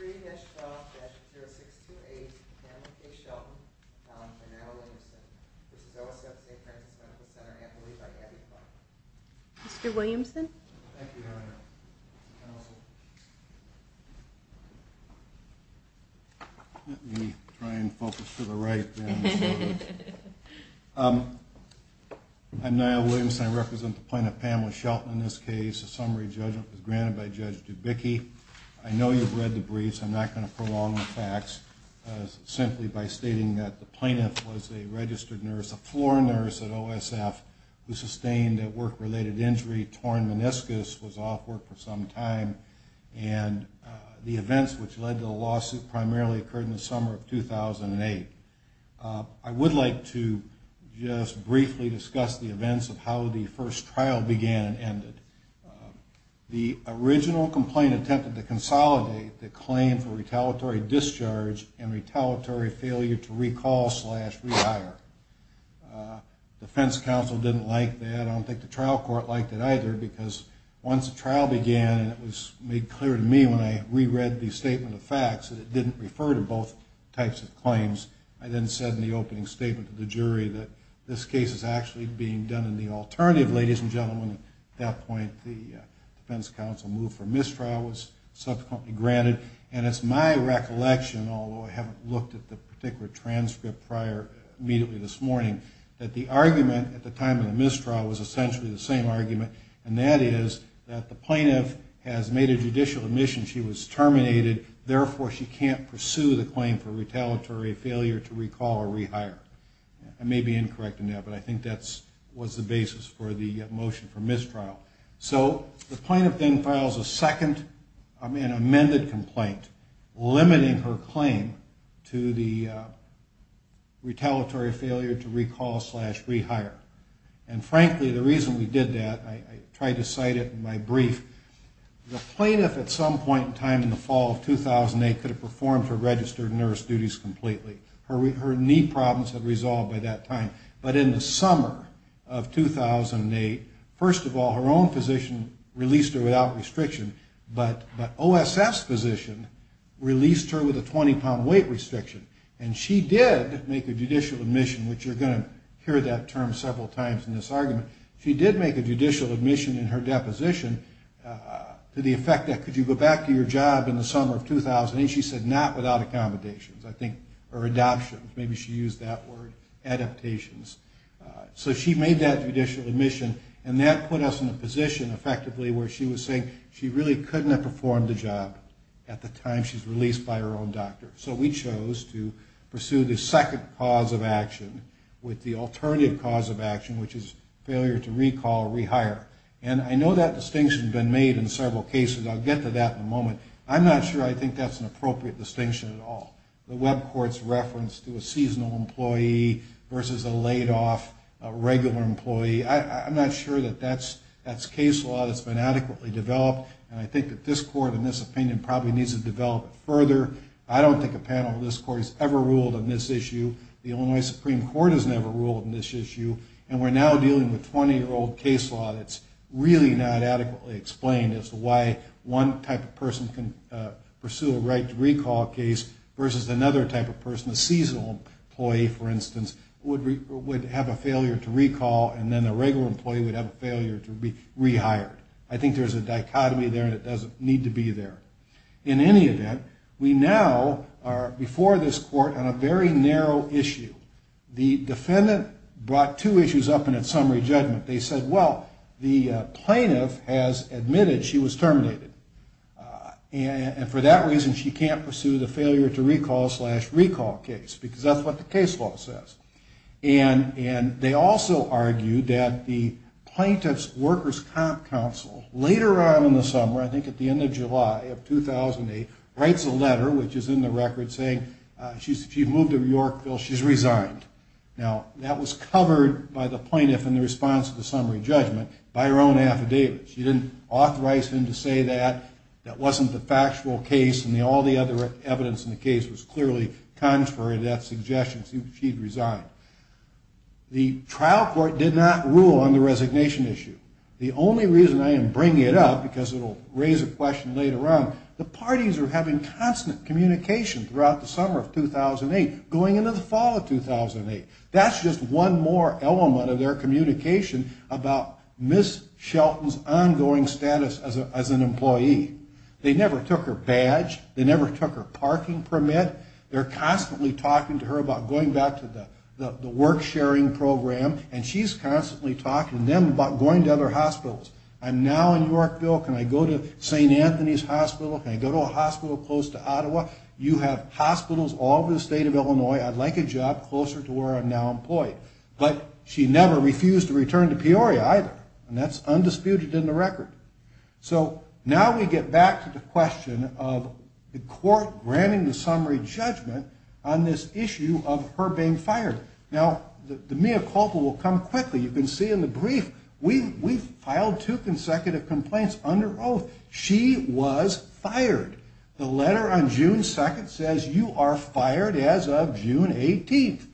3-12-0628, Pamela K. Shelton, found by Niall Williamson. This is OSF Saint Francis Medical Center, amicably by Abby Clark. Mr. Williamson? Thank you, Your Honor. Let me try and focus to the right. I'm Niall Williamson. I represent the plaintiff, Pamela Shelton. In this case, the summary judgment was granted by Judge Dubicki. I know you've read the briefs. I'm not going to prolong the facts simply by stating that the plaintiff was a registered nurse, a floor nurse at OSF, who sustained a work-related injury, torn meniscus, was off work for some time. And the events which led to the lawsuit primarily occurred in the summer of 2008. I would like to just briefly discuss the events of how the first trial began and ended. The original complaint attempted to consolidate the claim for retaliatory discharge and retaliatory failure to recall slash rehire. Defense counsel didn't like that. I don't think the trial court liked it either because once the trial began, and it was made clear to me when I reread the statement of facts that it didn't refer to both types of claims, I then said in the opening statement to the jury that this case is actually being done in the alternative. Ladies and gentlemen, at that point the defense counsel moved for mistrial, was subsequently granted. And it's my recollection, although I haven't looked at the particular transcript prior immediately this morning, that the argument at the time of the mistrial was essentially the same argument, and that is that the plaintiff has made a judicial admission she was terminated, therefore she can't pursue the claim for retaliatory failure to recall or rehire. I may be incorrect in that, but I think that was the basis for the motion for mistrial. So the plaintiff then files a second amended complaint limiting her claim to the retaliatory failure to recall slash rehire. And frankly, the reason we did that, I tried to cite it in my brief, the plaintiff at some point in time in the fall of 2008 could have performed her registered nurse duties completely. Her knee problems had resolved by that time. But in the summer of 2008, first of all, her own physician released her without restriction, but OSF's physician released her with a 20-pound weight restriction. And she did make a judicial admission, which you're going to hear that term several times in this argument. She did make a judicial admission in her deposition to the effect that could you go back to your job in the summer of 2008? I think she said not without accommodations or adoptions. Maybe she used that word, adaptations. So she made that judicial admission, and that put us in a position effectively where she was saying she really couldn't have performed the job at the time she was released by her own doctor. So we chose to pursue the second cause of action with the alternative cause of action, which is failure to recall or rehire. And I know that distinction has been made in several cases. I'll get to that in a moment. I'm not sure I think that's an appropriate distinction at all. The web court's reference to a seasonal employee versus a laid-off regular employee, I'm not sure that that's case law that's been adequately developed. And I think that this court in this opinion probably needs to develop it further. I don't think a panel of this court has ever ruled on this issue. The Illinois Supreme Court has never ruled on this issue. And we're now dealing with 20-year-old case law that's really not adequately explained as to why one type of person can pursue a right to recall case versus another type of person. A seasonal employee, for instance, would have a failure to recall, and then a regular employee would have a failure to be rehired. I think there's a dichotomy there, and it doesn't need to be there. In any event, we now are, before this court, on a very narrow issue. The defendant brought two issues up in its summary judgment. They said, well, the plaintiff has admitted she was terminated, and for that reason she can't pursue the failure to recall slash recall case because that's what the case law says. And they also argued that the plaintiff's workers' comp council later on in the summer, I think at the end of July of 2008, writes a letter, which is in the record, saying she's moved to Yorkville, she's resigned. Now, that was covered by the plaintiff in the response to the summary judgment by her own affidavit. She didn't authorize him to say that. That wasn't the factual case, and all the other evidence in the case was clearly contrary to that suggestion. She'd resigned. The trial court did not rule on the resignation issue. The only reason I am bringing it up, because it will raise a question later on, the parties are having constant communication throughout the summer of 2008 going into the fall of 2008. That's just one more element of their communication about Ms. Shelton's ongoing status as an employee. They never took her badge. They never took her parking permit. They're constantly talking to her about going back to the work sharing program, and she's constantly talking to them about going to other hospitals. I'm now in Yorkville. Can I go to St. Anthony's Hospital? Can I go to a hospital close to Ottawa? You have hospitals all over the state of Illinois. I'd like a job closer to where I'm now employed. But she never refused to return to Peoria either, and that's undisputed in the record. So now we get back to the question of the court granting the summary judgment on this issue of her being fired. Now, the mea culpa will come quickly. You can see in the brief we filed two consecutive complaints under oath. She was fired. The letter on June 2nd says you are fired as of June 18th.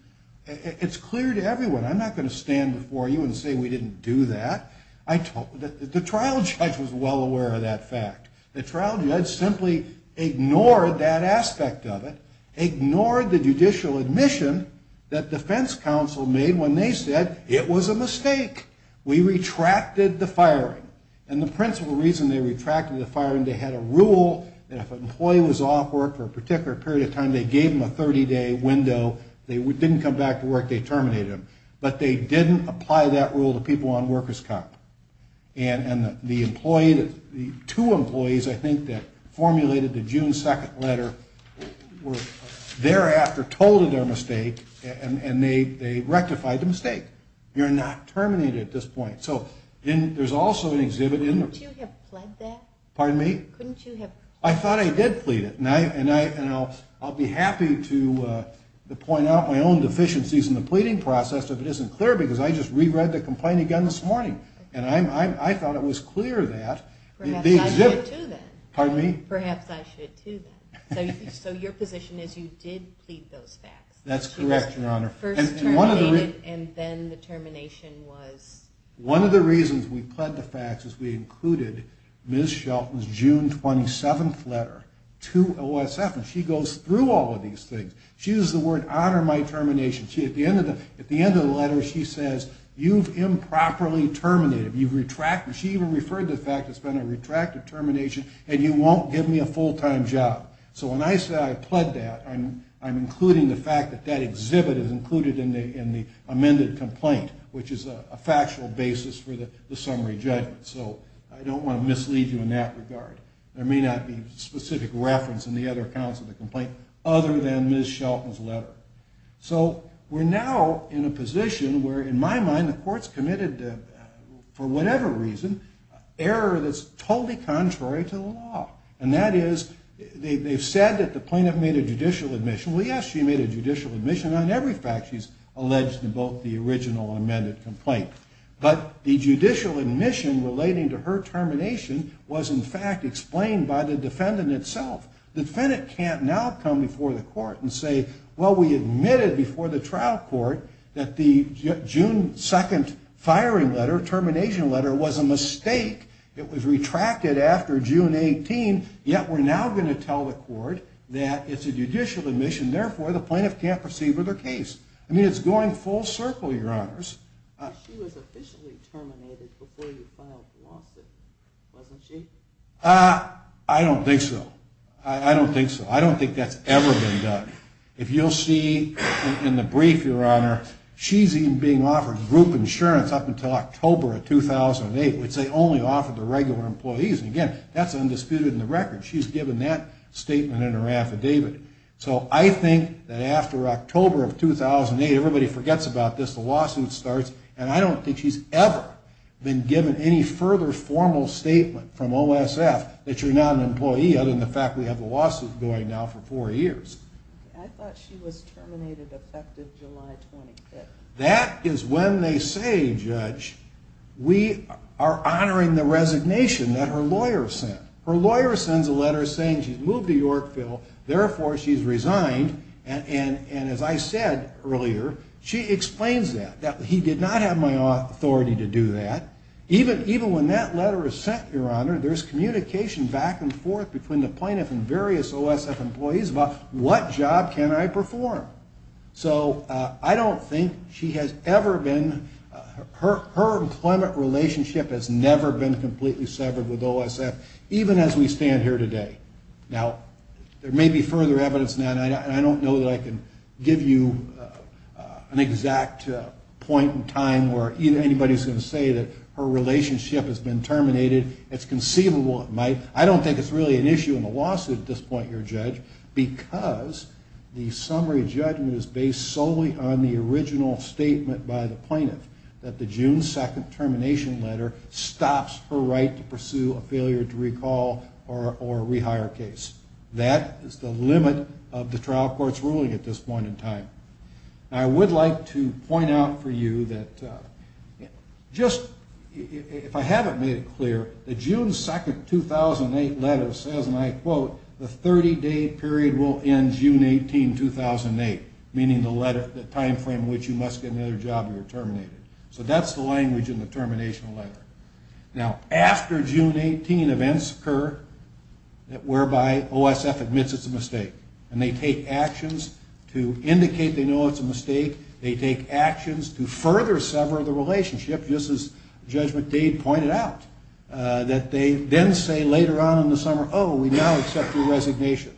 It's clear to everyone. I'm not going to stand before you and say we didn't do that. The trial judge was well aware of that fact. The trial judge simply ignored that aspect of it, ignored the judicial admission that defense counsel made when they said it was a mistake. We retracted the firing. And the principal reason they retracted the firing, they had a rule that if an employee was off work for a particular period of time, they gave them a 30-day window. If they didn't come back to work, they terminated them. But they didn't apply that rule to people on workers' comp. And the two employees, I think, that formulated the June 2nd letter were thereafter told of their mistake, and they rectified the mistake. You're not terminated at this point. So there's also an exhibit in there. Couldn't you have plead that? Pardon me? Couldn't you have? I thought I did plead it. And I'll be happy to point out my own deficiencies in the pleading process if it isn't clear, because I just reread the complaint again this morning. And I thought it was clear that the exhibit... Perhaps I should, too, then. Pardon me? Perhaps I should, too, then. So your position is you did plead those facts. That's correct, Your Honor. First terminated, and then the termination was... One of the reasons we pled the facts is we included Ms. Shelton's June 27th letter to OSF. And she goes through all of these things. She used the word, honor my termination. At the end of the letter, she says, you've improperly terminated. You've retracted. She even referred to the fact that it's been a retracted termination, and you won't give me a full-time job. So when I say I pled that, I'm including the fact that that exhibit is included in the amended complaint, which is a factual basis for the summary judgment. So I don't want to mislead you in that regard. There may not be specific reference in the other accounts of the complaint other than Ms. Shelton's letter. So we're now in a position where, in my mind, the court's committed, for whatever reason, error that's totally contrary to the law. And that is they've said that the plaintiff made a judicial admission. Well, yes, she made a judicial admission on every fact she's alleged in both the original amended complaint. But the judicial admission relating to her termination was, in fact, explained by the defendant itself. The defendant can't now come before the court and say, well, we admitted before the trial court that the June 2nd firing letter, termination letter, was a mistake. It was retracted after June 18, yet we're now going to tell the court that it's a judicial admission. Therefore, the plaintiff can't proceed with her case. I mean, it's going full circle, Your Honors. She was officially terminated before you filed the lawsuit, wasn't she? I don't think so. I don't think so. I don't think that's ever been done. If you'll see in the brief, Your Honor, she's even being offered group insurance up until October of 2008, which they only offer to regular employees. And, again, that's undisputed in the record. She's given that statement in her affidavit. So I think that after October of 2008, everybody forgets about this, the lawsuit starts, and I don't think she's ever been given any further formal statement from OSF that you're not an employee, other than the fact we have the lawsuit going now for four years. I thought she was terminated effective July 25th. That is when they say, Judge, we are honoring the resignation that her lawyer sent. Her lawyer sends a letter saying she's moved to Yorkville. Therefore, she's resigned. And as I said earlier, she explains that, that he did not have my authority to do that. Even when that letter is sent, Your Honor, there's communication back and forth between the plaintiff and various OSF employees about what job can I perform. So I don't think she has ever been, her employment relationship has never been completely severed with OSF, even as we stand here today. Now, there may be further evidence, and I don't know that I can give you an exact point in time where anybody's going to say that her relationship has been terminated. It's conceivable it might. I don't think it's really an issue in the lawsuit at this point, Your Judge, because the summary judgment is based solely on the original statement by the plaintiff that the June 2nd termination letter stops her right to pursue a failure to recall or rehire case. That is the limit of the trial court's ruling at this point in time. I would like to point out for you that just, if I haven't made it clear, the June 2nd, 2008 letter says, and I quote, the 30-day period will end June 18, 2008, meaning the time frame in which you must get another job or you're terminated. So that's the language in the termination letter. Now, after June 18, events occur whereby OSF admits it's a mistake, and they take actions to indicate they know it's a mistake. They take actions to further sever the relationship, just as Judge McDade pointed out, that they then say later on in the summer, oh, we now accept your resignation.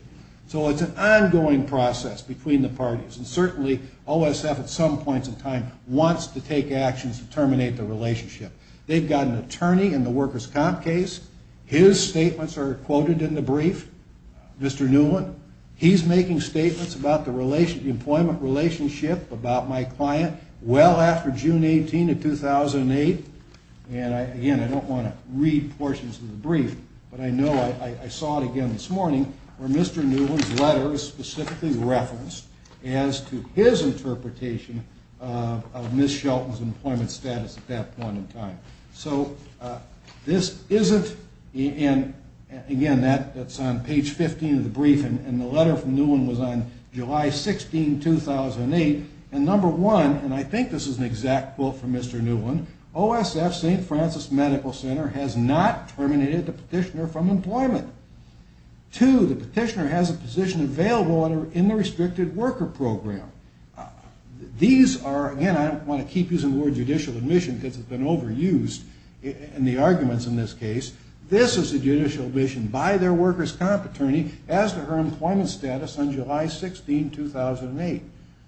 So it's an ongoing process between the parties, and certainly OSF at some points in time wants to take actions to terminate the relationship. They've got an attorney in the workers' comp case. His statements are quoted in the brief, Mr. Newland. He's making statements about the employment relationship, about my client, well after June 18 of 2008. And again, I don't want to read portions of the brief, but I know I saw it again this morning where Mr. Newland's letter is specifically referenced as to his interpretation of Ms. Shelton's employment status at that point in time. So this isn't, and again, that's on page 15 of the brief, and the letter from Newland was on July 16, 2008. And number one, and I think this is an exact quote from Mr. Newland, OSF St. Francis Medical Center has not terminated the petitioner from employment. Two, the petitioner has a position available in the restricted worker program. These are, again, I don't want to keep using the word judicial admission because it's been overused in the arguments in this case. This is a judicial admission by their workers' comp attorney as to her employment status on July 16, 2008.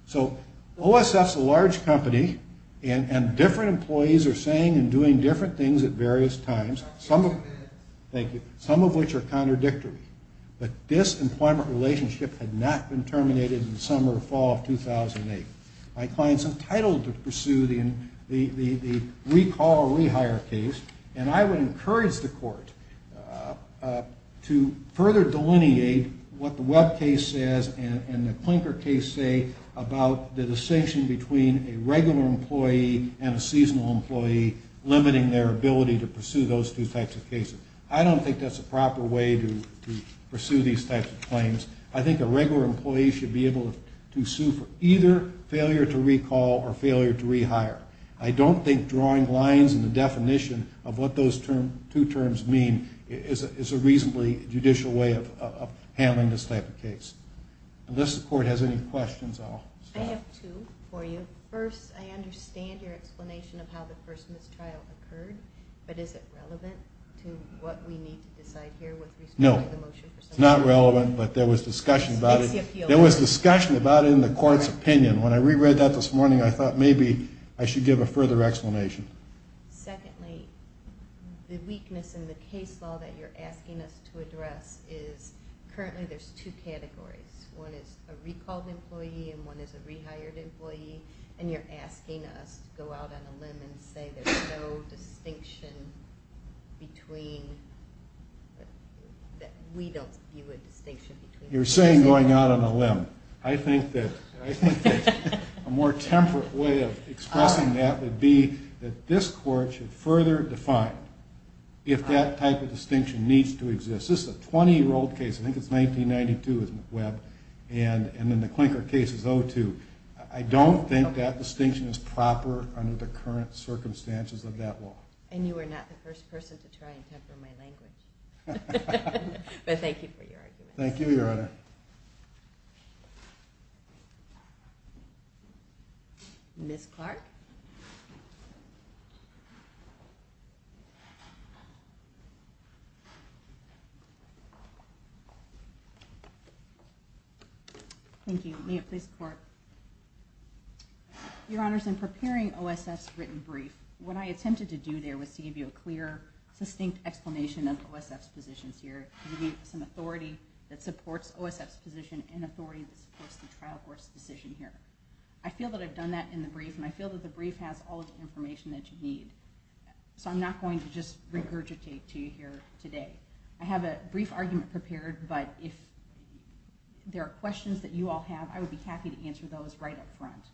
So OSF's a large company, and different employees are saying and doing different things at various times, some of which are contradictory. But this employment relationship had not been terminated in the summer or fall of 2008. My client's entitled to pursue the recall or rehire case, and I would encourage the court to further delineate what the Webb case says and the Klinker case say about the distinction between a regular employee and a seasonal employee limiting their ability to pursue those two types of cases. I don't think that's a proper way to pursue these types of claims. I think a regular employee should be able to sue for either failure to recall or failure to rehire. I don't think drawing lines in the definition of what those two terms mean is a reasonably judicial way of handling this type of case. Unless the court has any questions, I'll stop. I have two for you. First, I understand your explanation of how the first mistrial occurred, but is it relevant to what we need to decide here with respect to the motion? No, it's not relevant, but there was discussion about it. There was discussion about it in the court's opinion. When I reread that this morning, I thought maybe I should give a further explanation. Secondly, the weakness in the case law that you're asking us to address is currently there's two categories. One is a recalled employee and one is a rehired employee, and you're asking us to go out on a limb and say there's no distinction between that we don't view a distinction between those two. You're saying going out on a limb. I think that a more temperate way of expressing that would be that this court should further define if that type of distinction needs to exist. This is a 20-year-old case. I think it's 1992 as McWeb, and then the Klinker case is 02. I don't think that distinction is proper under the current circumstances of that law. And you are not the first person to try and temper my language. But thank you for your argument. Thank you, Your Honor. Ms. Clark? Thank you. May it please the Court? Your Honors, in preparing OSF's written brief, what I attempted to do there was to give you a clear, succinct explanation of OSF's positions here, give you some authority that supports OSF's position and authority that supports the trial court's decision here. I feel that I've done that in the brief, and I feel that the brief has all of the information that you need. So I'm not going to just regurgitate to you here today. I have a brief argument prepared, but if there are questions that you all have, I would be happy to answer those right up front.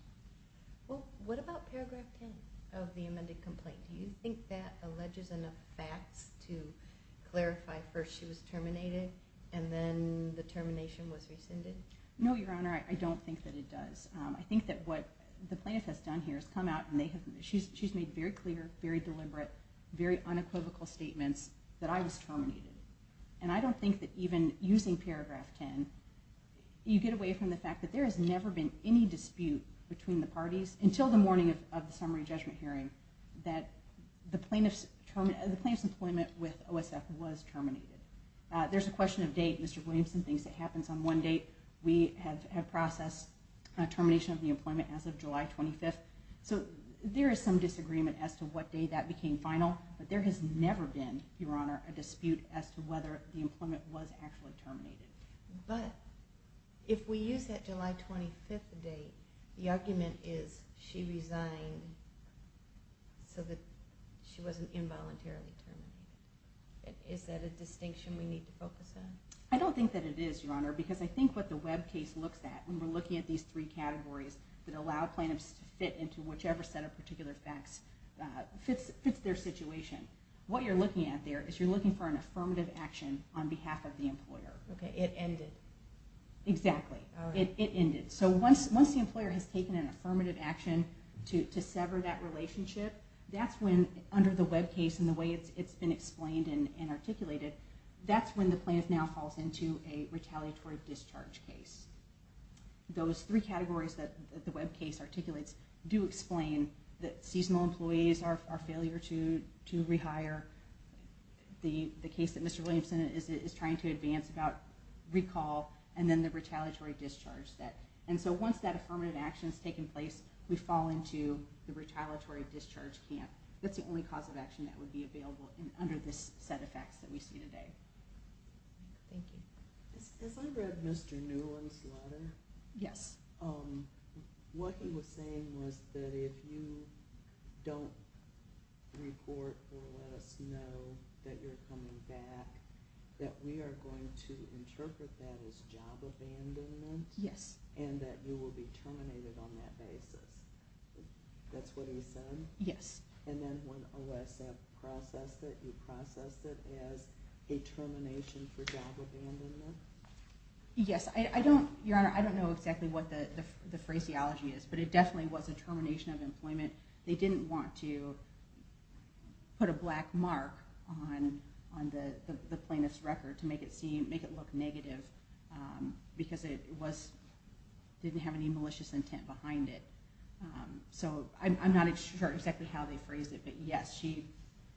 Well, what about paragraph 10 of the amended complaint? Do you think that alleges enough facts to clarify first she was terminated and then the termination was rescinded? No, Your Honor, I don't think that it does. I think that what the plaintiff has done here is come out, and she's made very clear, very deliberate, very unequivocal statements that I was terminated. And I don't think that even using paragraph 10, you get away from the fact that there has never been any dispute between the parties until the morning of the summary judgment hearing that the plaintiff's employment with OSF was terminated. There's a question of date. Mr. Williamson thinks it happens on one date. We have processed termination of the employment as of July 25th. So there is some disagreement as to what day that became final, but there has never been, Your Honor, a dispute as to whether the employment was actually terminated. But if we use that July 25th date, the argument is she resigned so that she wasn't involuntarily terminated. Is that a distinction we need to focus on? I don't think that it is, Your Honor, because I think what the web case looks at when we're looking at these three categories that allow plaintiffs to fit into whichever set of particular facts fits their situation, what you're looking at there is you're looking for an affirmative action on behalf of the employer. Okay, it ended. Exactly, it ended. So once the employer has taken an affirmative action to sever that relationship, that's when under the web case and the way it's been explained and articulated, that's when the plaintiff now falls into a retaliatory discharge case. Those three categories that the web case articulates do explain that seasonal employees are a failure to rehire, the case that Mr. Williamson is trying to advance about recall, and then the retaliatory discharge. And so once that affirmative action has taken place, we fall into the retaliatory discharge camp. That's the only cause of action that would be available under this set of facts that we see today. Thank you. As I read Mr. Newland's letter, what he was saying was that if you don't report or let us know that you're coming back, that we are going to interpret that as job abandonment and that you will be terminated on that basis. That's what he said? Yes. And then when OSF processed it, you processed it as a termination for job abandonment? Yes. Your Honor, I don't know exactly what the phraseology is, but it definitely was a termination of employment. They didn't want to put a black mark on the plaintiff's record to make it look negative because it didn't have any malicious intent behind it. So I'm not sure exactly how they phrased it, but yes,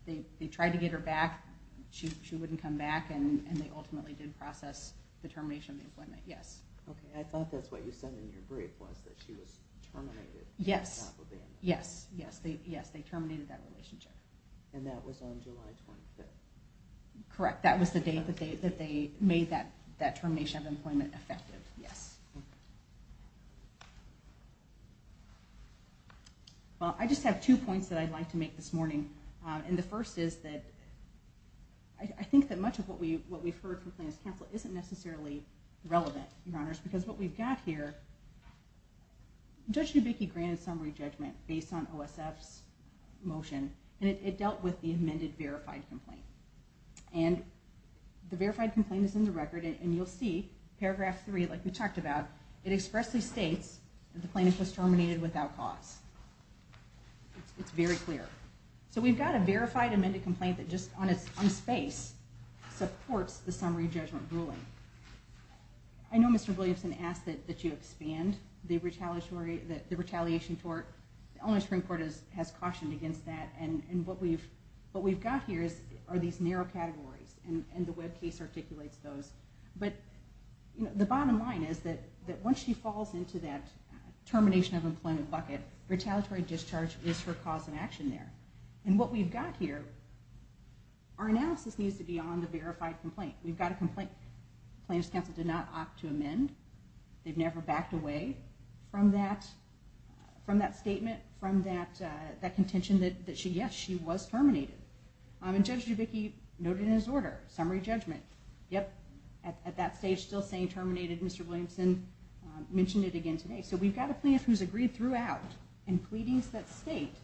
they tried to get her back, she wouldn't come back, and they ultimately did process the termination of employment, yes. Okay, I thought that's what you said in your brief was that she was terminated from job abandonment. Yes, yes, they terminated that relationship. And that was on July 25th. Correct, that was the date that they made that termination of employment effective, yes. Well, I just have two points that I'd like to make this morning, and the first is that I think that much of what we've heard from plaintiff's counsel isn't necessarily relevant, Your Honors, because what we've got here, Judge Newbicke granted summary judgment based on OSF's motion, and it dealt with the amended verified complaint. And the verified complaint is in the record, and you'll see paragraph 3, like we talked about, it expressly states that the plaintiff was terminated without cause. It's very clear. So we've got a verified amended complaint that just on its own space supports the summary judgment ruling. I know Mr. Williamson asked that you expand the retaliation tort. The Illinois Supreme Court has cautioned against that, and what we've got here are these narrow categories, and the web case articulates those. But the bottom line is that once she falls into that termination of employment bucket, retaliatory discharge is her cause of action there. And what we've got here, our analysis needs to be on the verified complaint. We've got a complaint the plaintiff's counsel did not opt to amend. They've never backed away from that statement, from that contention that, yes, she was terminated. And Judge Newbicke noted in his order, summary judgment, yep, at that stage still saying terminated. Mr. Williamson mentioned it again today. So we've got a plaintiff who's agreed throughout in pleadings that state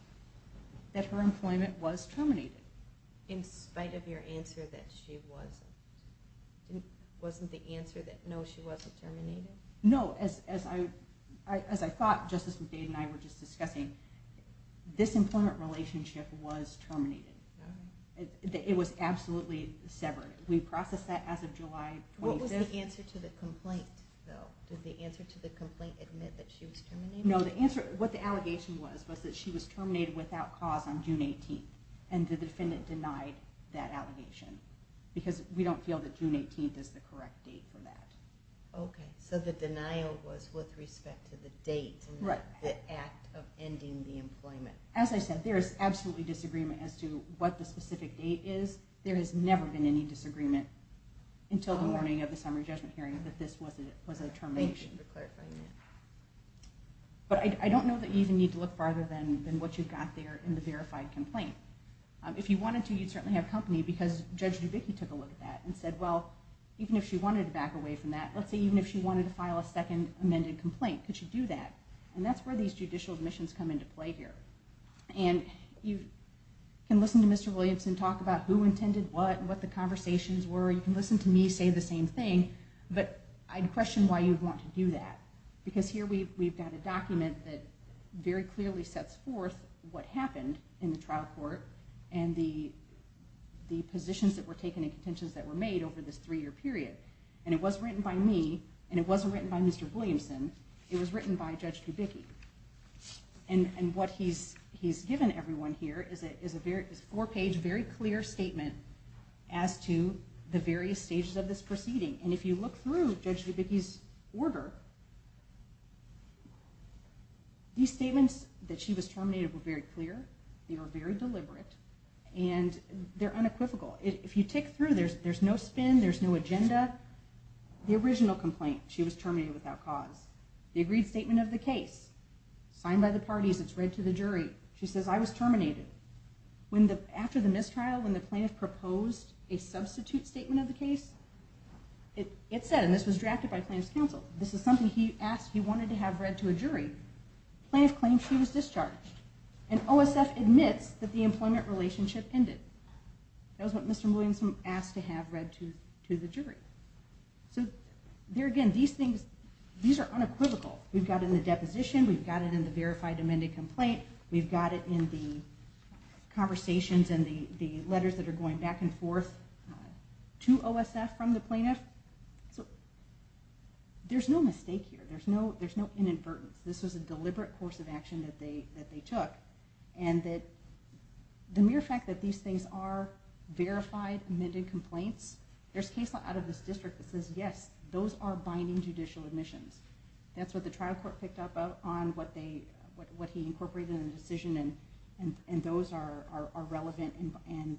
that her employment was terminated. In spite of your answer that she wasn't, wasn't the answer that, no, she wasn't terminated? No, as I thought Justice McDade and I were just discussing, this employment relationship was terminated. It was absolutely severed. We processed that as of July 25th. What was the answer to the complaint, though? Did the answer to the complaint admit that she was terminated? No, the answer, what the allegation was, was that she was terminated without cause on June 18th. And the defendant denied that allegation because we don't feel that June 18th is the correct date for that. Okay, so the denial was with respect to the date and not the act of ending the employment. As I said, there is absolutely disagreement as to what the specific date is. There has never been any disagreement until the morning of the summary judgment hearing that this was a termination. Thank you for clarifying that. But I don't know that you even need to look farther than what you've got there in the verified complaint. If you wanted to, you'd certainly have company because Judge Dubicki took a look at that and said, well, even if she wanted to back away from that, let's say even if she wanted to file a second amended complaint, could she do that? And that's where these judicial admissions come into play here. And you can listen to Mr. Williamson talk about who intended what and what the conversations were. You can listen to me say the same thing. But I'd question why you'd want to do that because here we've got a document that very clearly sets forth what happened in the trial court and the positions that were taken and contentions that were made over this three-year period. And it wasn't written by me and it wasn't written by Mr. Williamson. It was written by Judge Dubicki. And what he's given everyone here is a four-page, very clear statement as to the various stages of this proceeding. And if you look through Judge Dubicki's order, these statements that she was terminated were very clear, they were very deliberate, and they're unequivocal. If you tick through, there's no spin, there's no agenda. The original complaint, she was terminated without cause. The agreed statement of the case, signed by the parties, it's read to the jury. She says, I was terminated. After the mistrial, when the plaintiff proposed a substitute statement of the case, it said, and this was drafted by plaintiff's counsel, this is something he asked, he wanted to have read to a jury. Plaintiff claims she was discharged. And OSF admits that the employment relationship ended. That was what Mr. Williamson asked to have read to the jury. So there again, these things, these are unequivocal. We've got it in the deposition, we've got it in the verified amended complaint, we've got it in the conversations and the letters that are going back and forth to OSF from the plaintiff. So there's no mistake here. There's no inadvertence. This was a deliberate course of action that they took. And the mere fact that these things are verified, amended complaints, there's case law out of this district that says, yes, those are binding judicial admissions. That's what the trial court picked up on, what he incorporated in the decision, and those are relevant and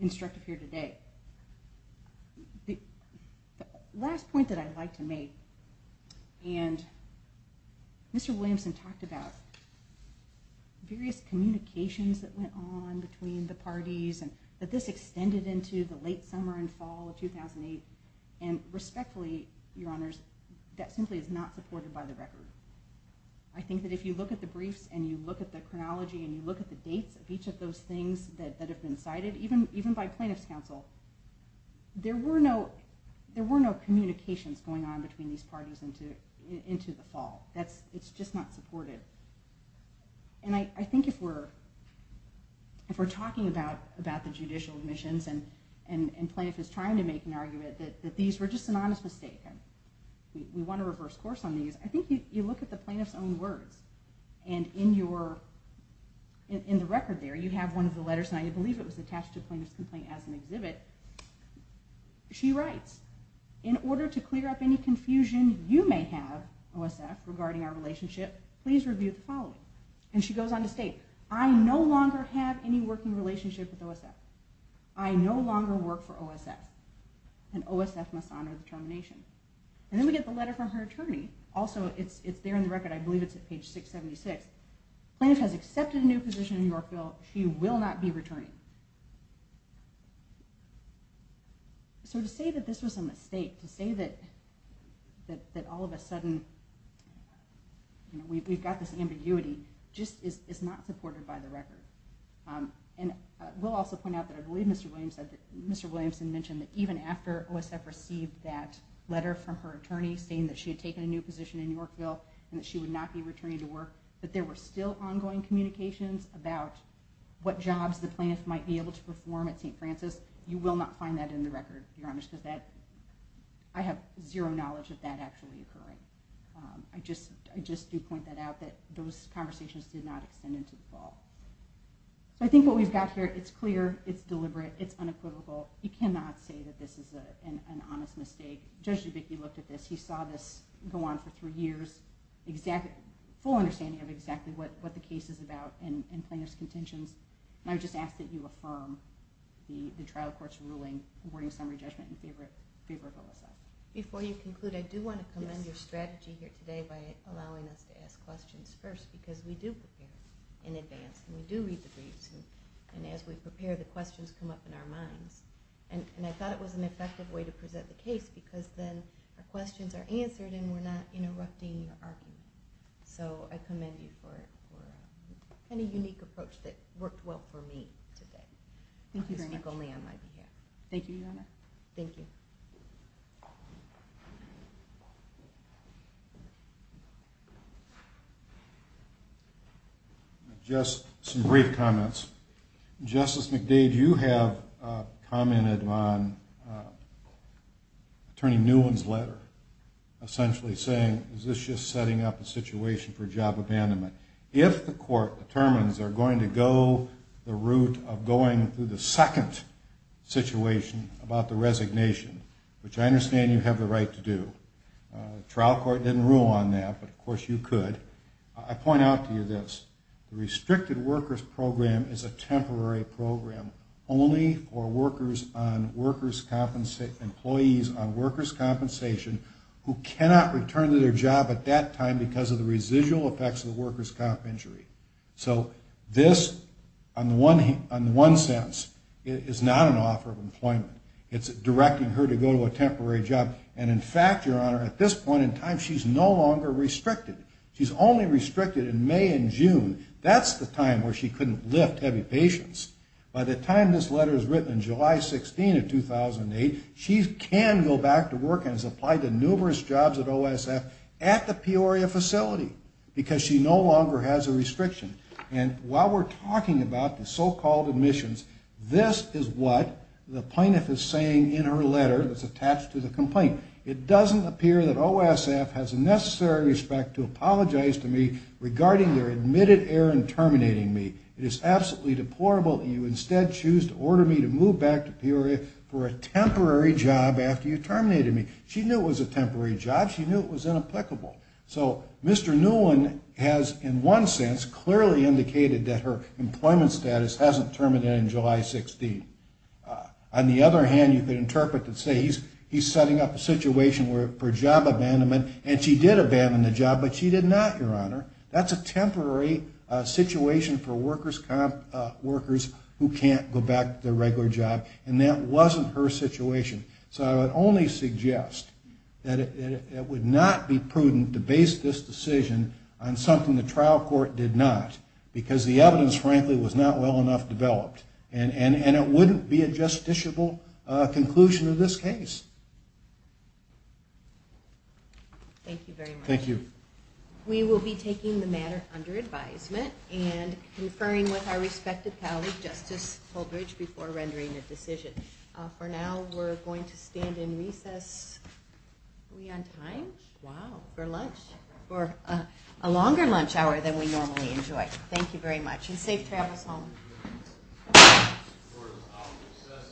instructive here today. The last point that I'd like to make, and Mr. Williamson talked about various communications that went on between the parties and that this extended into the late summer and fall of 2008, and respectfully, Your Honors, that simply is not supported by the record. I think that if you look at the briefs and you look at the chronology and you look at the dates of each of those things that have been cited, even by plaintiff's counsel, there were no communications going on between these parties into the fall. It's just not supported. And I think if we're talking about the judicial admissions and plaintiff is trying to make an argument that these were just an honest mistake and we want a reverse course on these, I think you look at the plaintiff's own words and in the record there you have one of the letters, and I believe it was attached to a plaintiff's complaint as an exhibit. She writes, In order to clear up any confusion you may have, OSF, regarding our relationship, please review the following. And she goes on to state, I no longer have any working relationship with OSF. I no longer work for OSF. And OSF must honor the termination. And then we get the letter from her attorney. Also, it's there in the record. I believe it's at page 676. Plaintiff has accepted a new position in Yorkville. She will not be returning. So to say that this was a mistake, to say that all of a sudden we've got this ambiguity, just is not supported by the record. And I will also point out that I believe Mr. Williamson mentioned that even after OSF received that letter from her attorney saying that she had taken a new position in Yorkville and that she would not be returning to work, that there were still ongoing communications about what jobs the plaintiff might be able to perform at St. Francis. You will not find that in the record, Your Honor, because I have zero knowledge of that actually occurring. I just do point that out, that those conversations did not extend into the fall. So I think what we've got here, it's clear, it's deliberate, it's unequivocal. You cannot say that this is an honest mistake. Judge Dubicki looked at this. He saw this go on for three years, full understanding of exactly what the case is about and plaintiff's contentions. And I would just ask that you affirm the trial court's ruling awarding summary judgment in favor of OSF. Before you conclude, I do want to commend your strategy here today by allowing us to ask questions first, because we do prepare in advance and we do read the briefs. And as we prepare, the questions come up in our minds. And I thought it was an effective way to present the case because then the questions are answered and we're not interrupting your argument. So I commend you for a kind of unique approach that worked well for me today. Thank you very much. I'll speak only on my behalf. Thank you, Your Honor. Thank you. Just some brief comments. Justice McDade, you have commented on Attorney Newen's letter, essentially saying, is this just setting up a situation for job abandonment? If the court determines they're going to go the route of going through the second situation about the resignation, which I understand you have the right to do. The trial court didn't rule on that, but, of course, you could. I point out to you this. The restricted workers program is a temporary program only for workers on workers' compensation, employees on workers' compensation, who cannot return to their job at that time because of the residual effects of the workers' comp injury. So this, on the one sense, is not an offer of employment. It's directing her to go to a temporary job. And, in fact, Your Honor, at this point in time, she's no longer restricted. She's only restricted in May and June. That's the time where she couldn't lift heavy patients. By the time this letter is written in July 16 of 2008, she can go back to work and is applied to numerous jobs at OSF at the Peoria facility because she no longer has a restriction. And while we're talking about the so-called admissions, this is what the plaintiff is saying in her letter that's attached to the complaint. It doesn't appear that OSF has a necessary respect to apologize to me regarding their admitted error in terminating me. It is absolutely deplorable that you instead choose to order me to move back to Peoria for a temporary job after you terminated me. She knew it was a temporary job. She knew it was inapplicable. So Mr. Newlin has, in one sense, clearly indicated that her employment status hasn't terminated in July 16. On the other hand, you could interpret and say he's setting up a situation for job abandonment and she did abandon the job, but she did not, Your Honor. That's a temporary situation for workers who can't go back to their regular job. And that wasn't her situation. So I would only suggest that it would not be prudent to base this decision on something the trial court did not because the evidence, frankly, was not well enough developed. And it wouldn't be a justiciable conclusion in this case. Thank you very much. Thank you. We will be taking the matter under advisement and conferring with our respective colleague, Justice Holdridge, before rendering a decision. For now, we're going to stand in recess. Are we on time? Wow. For lunch. For a longer lunch hour than we normally enjoy. Thank you very much and safe travels home. Thank you.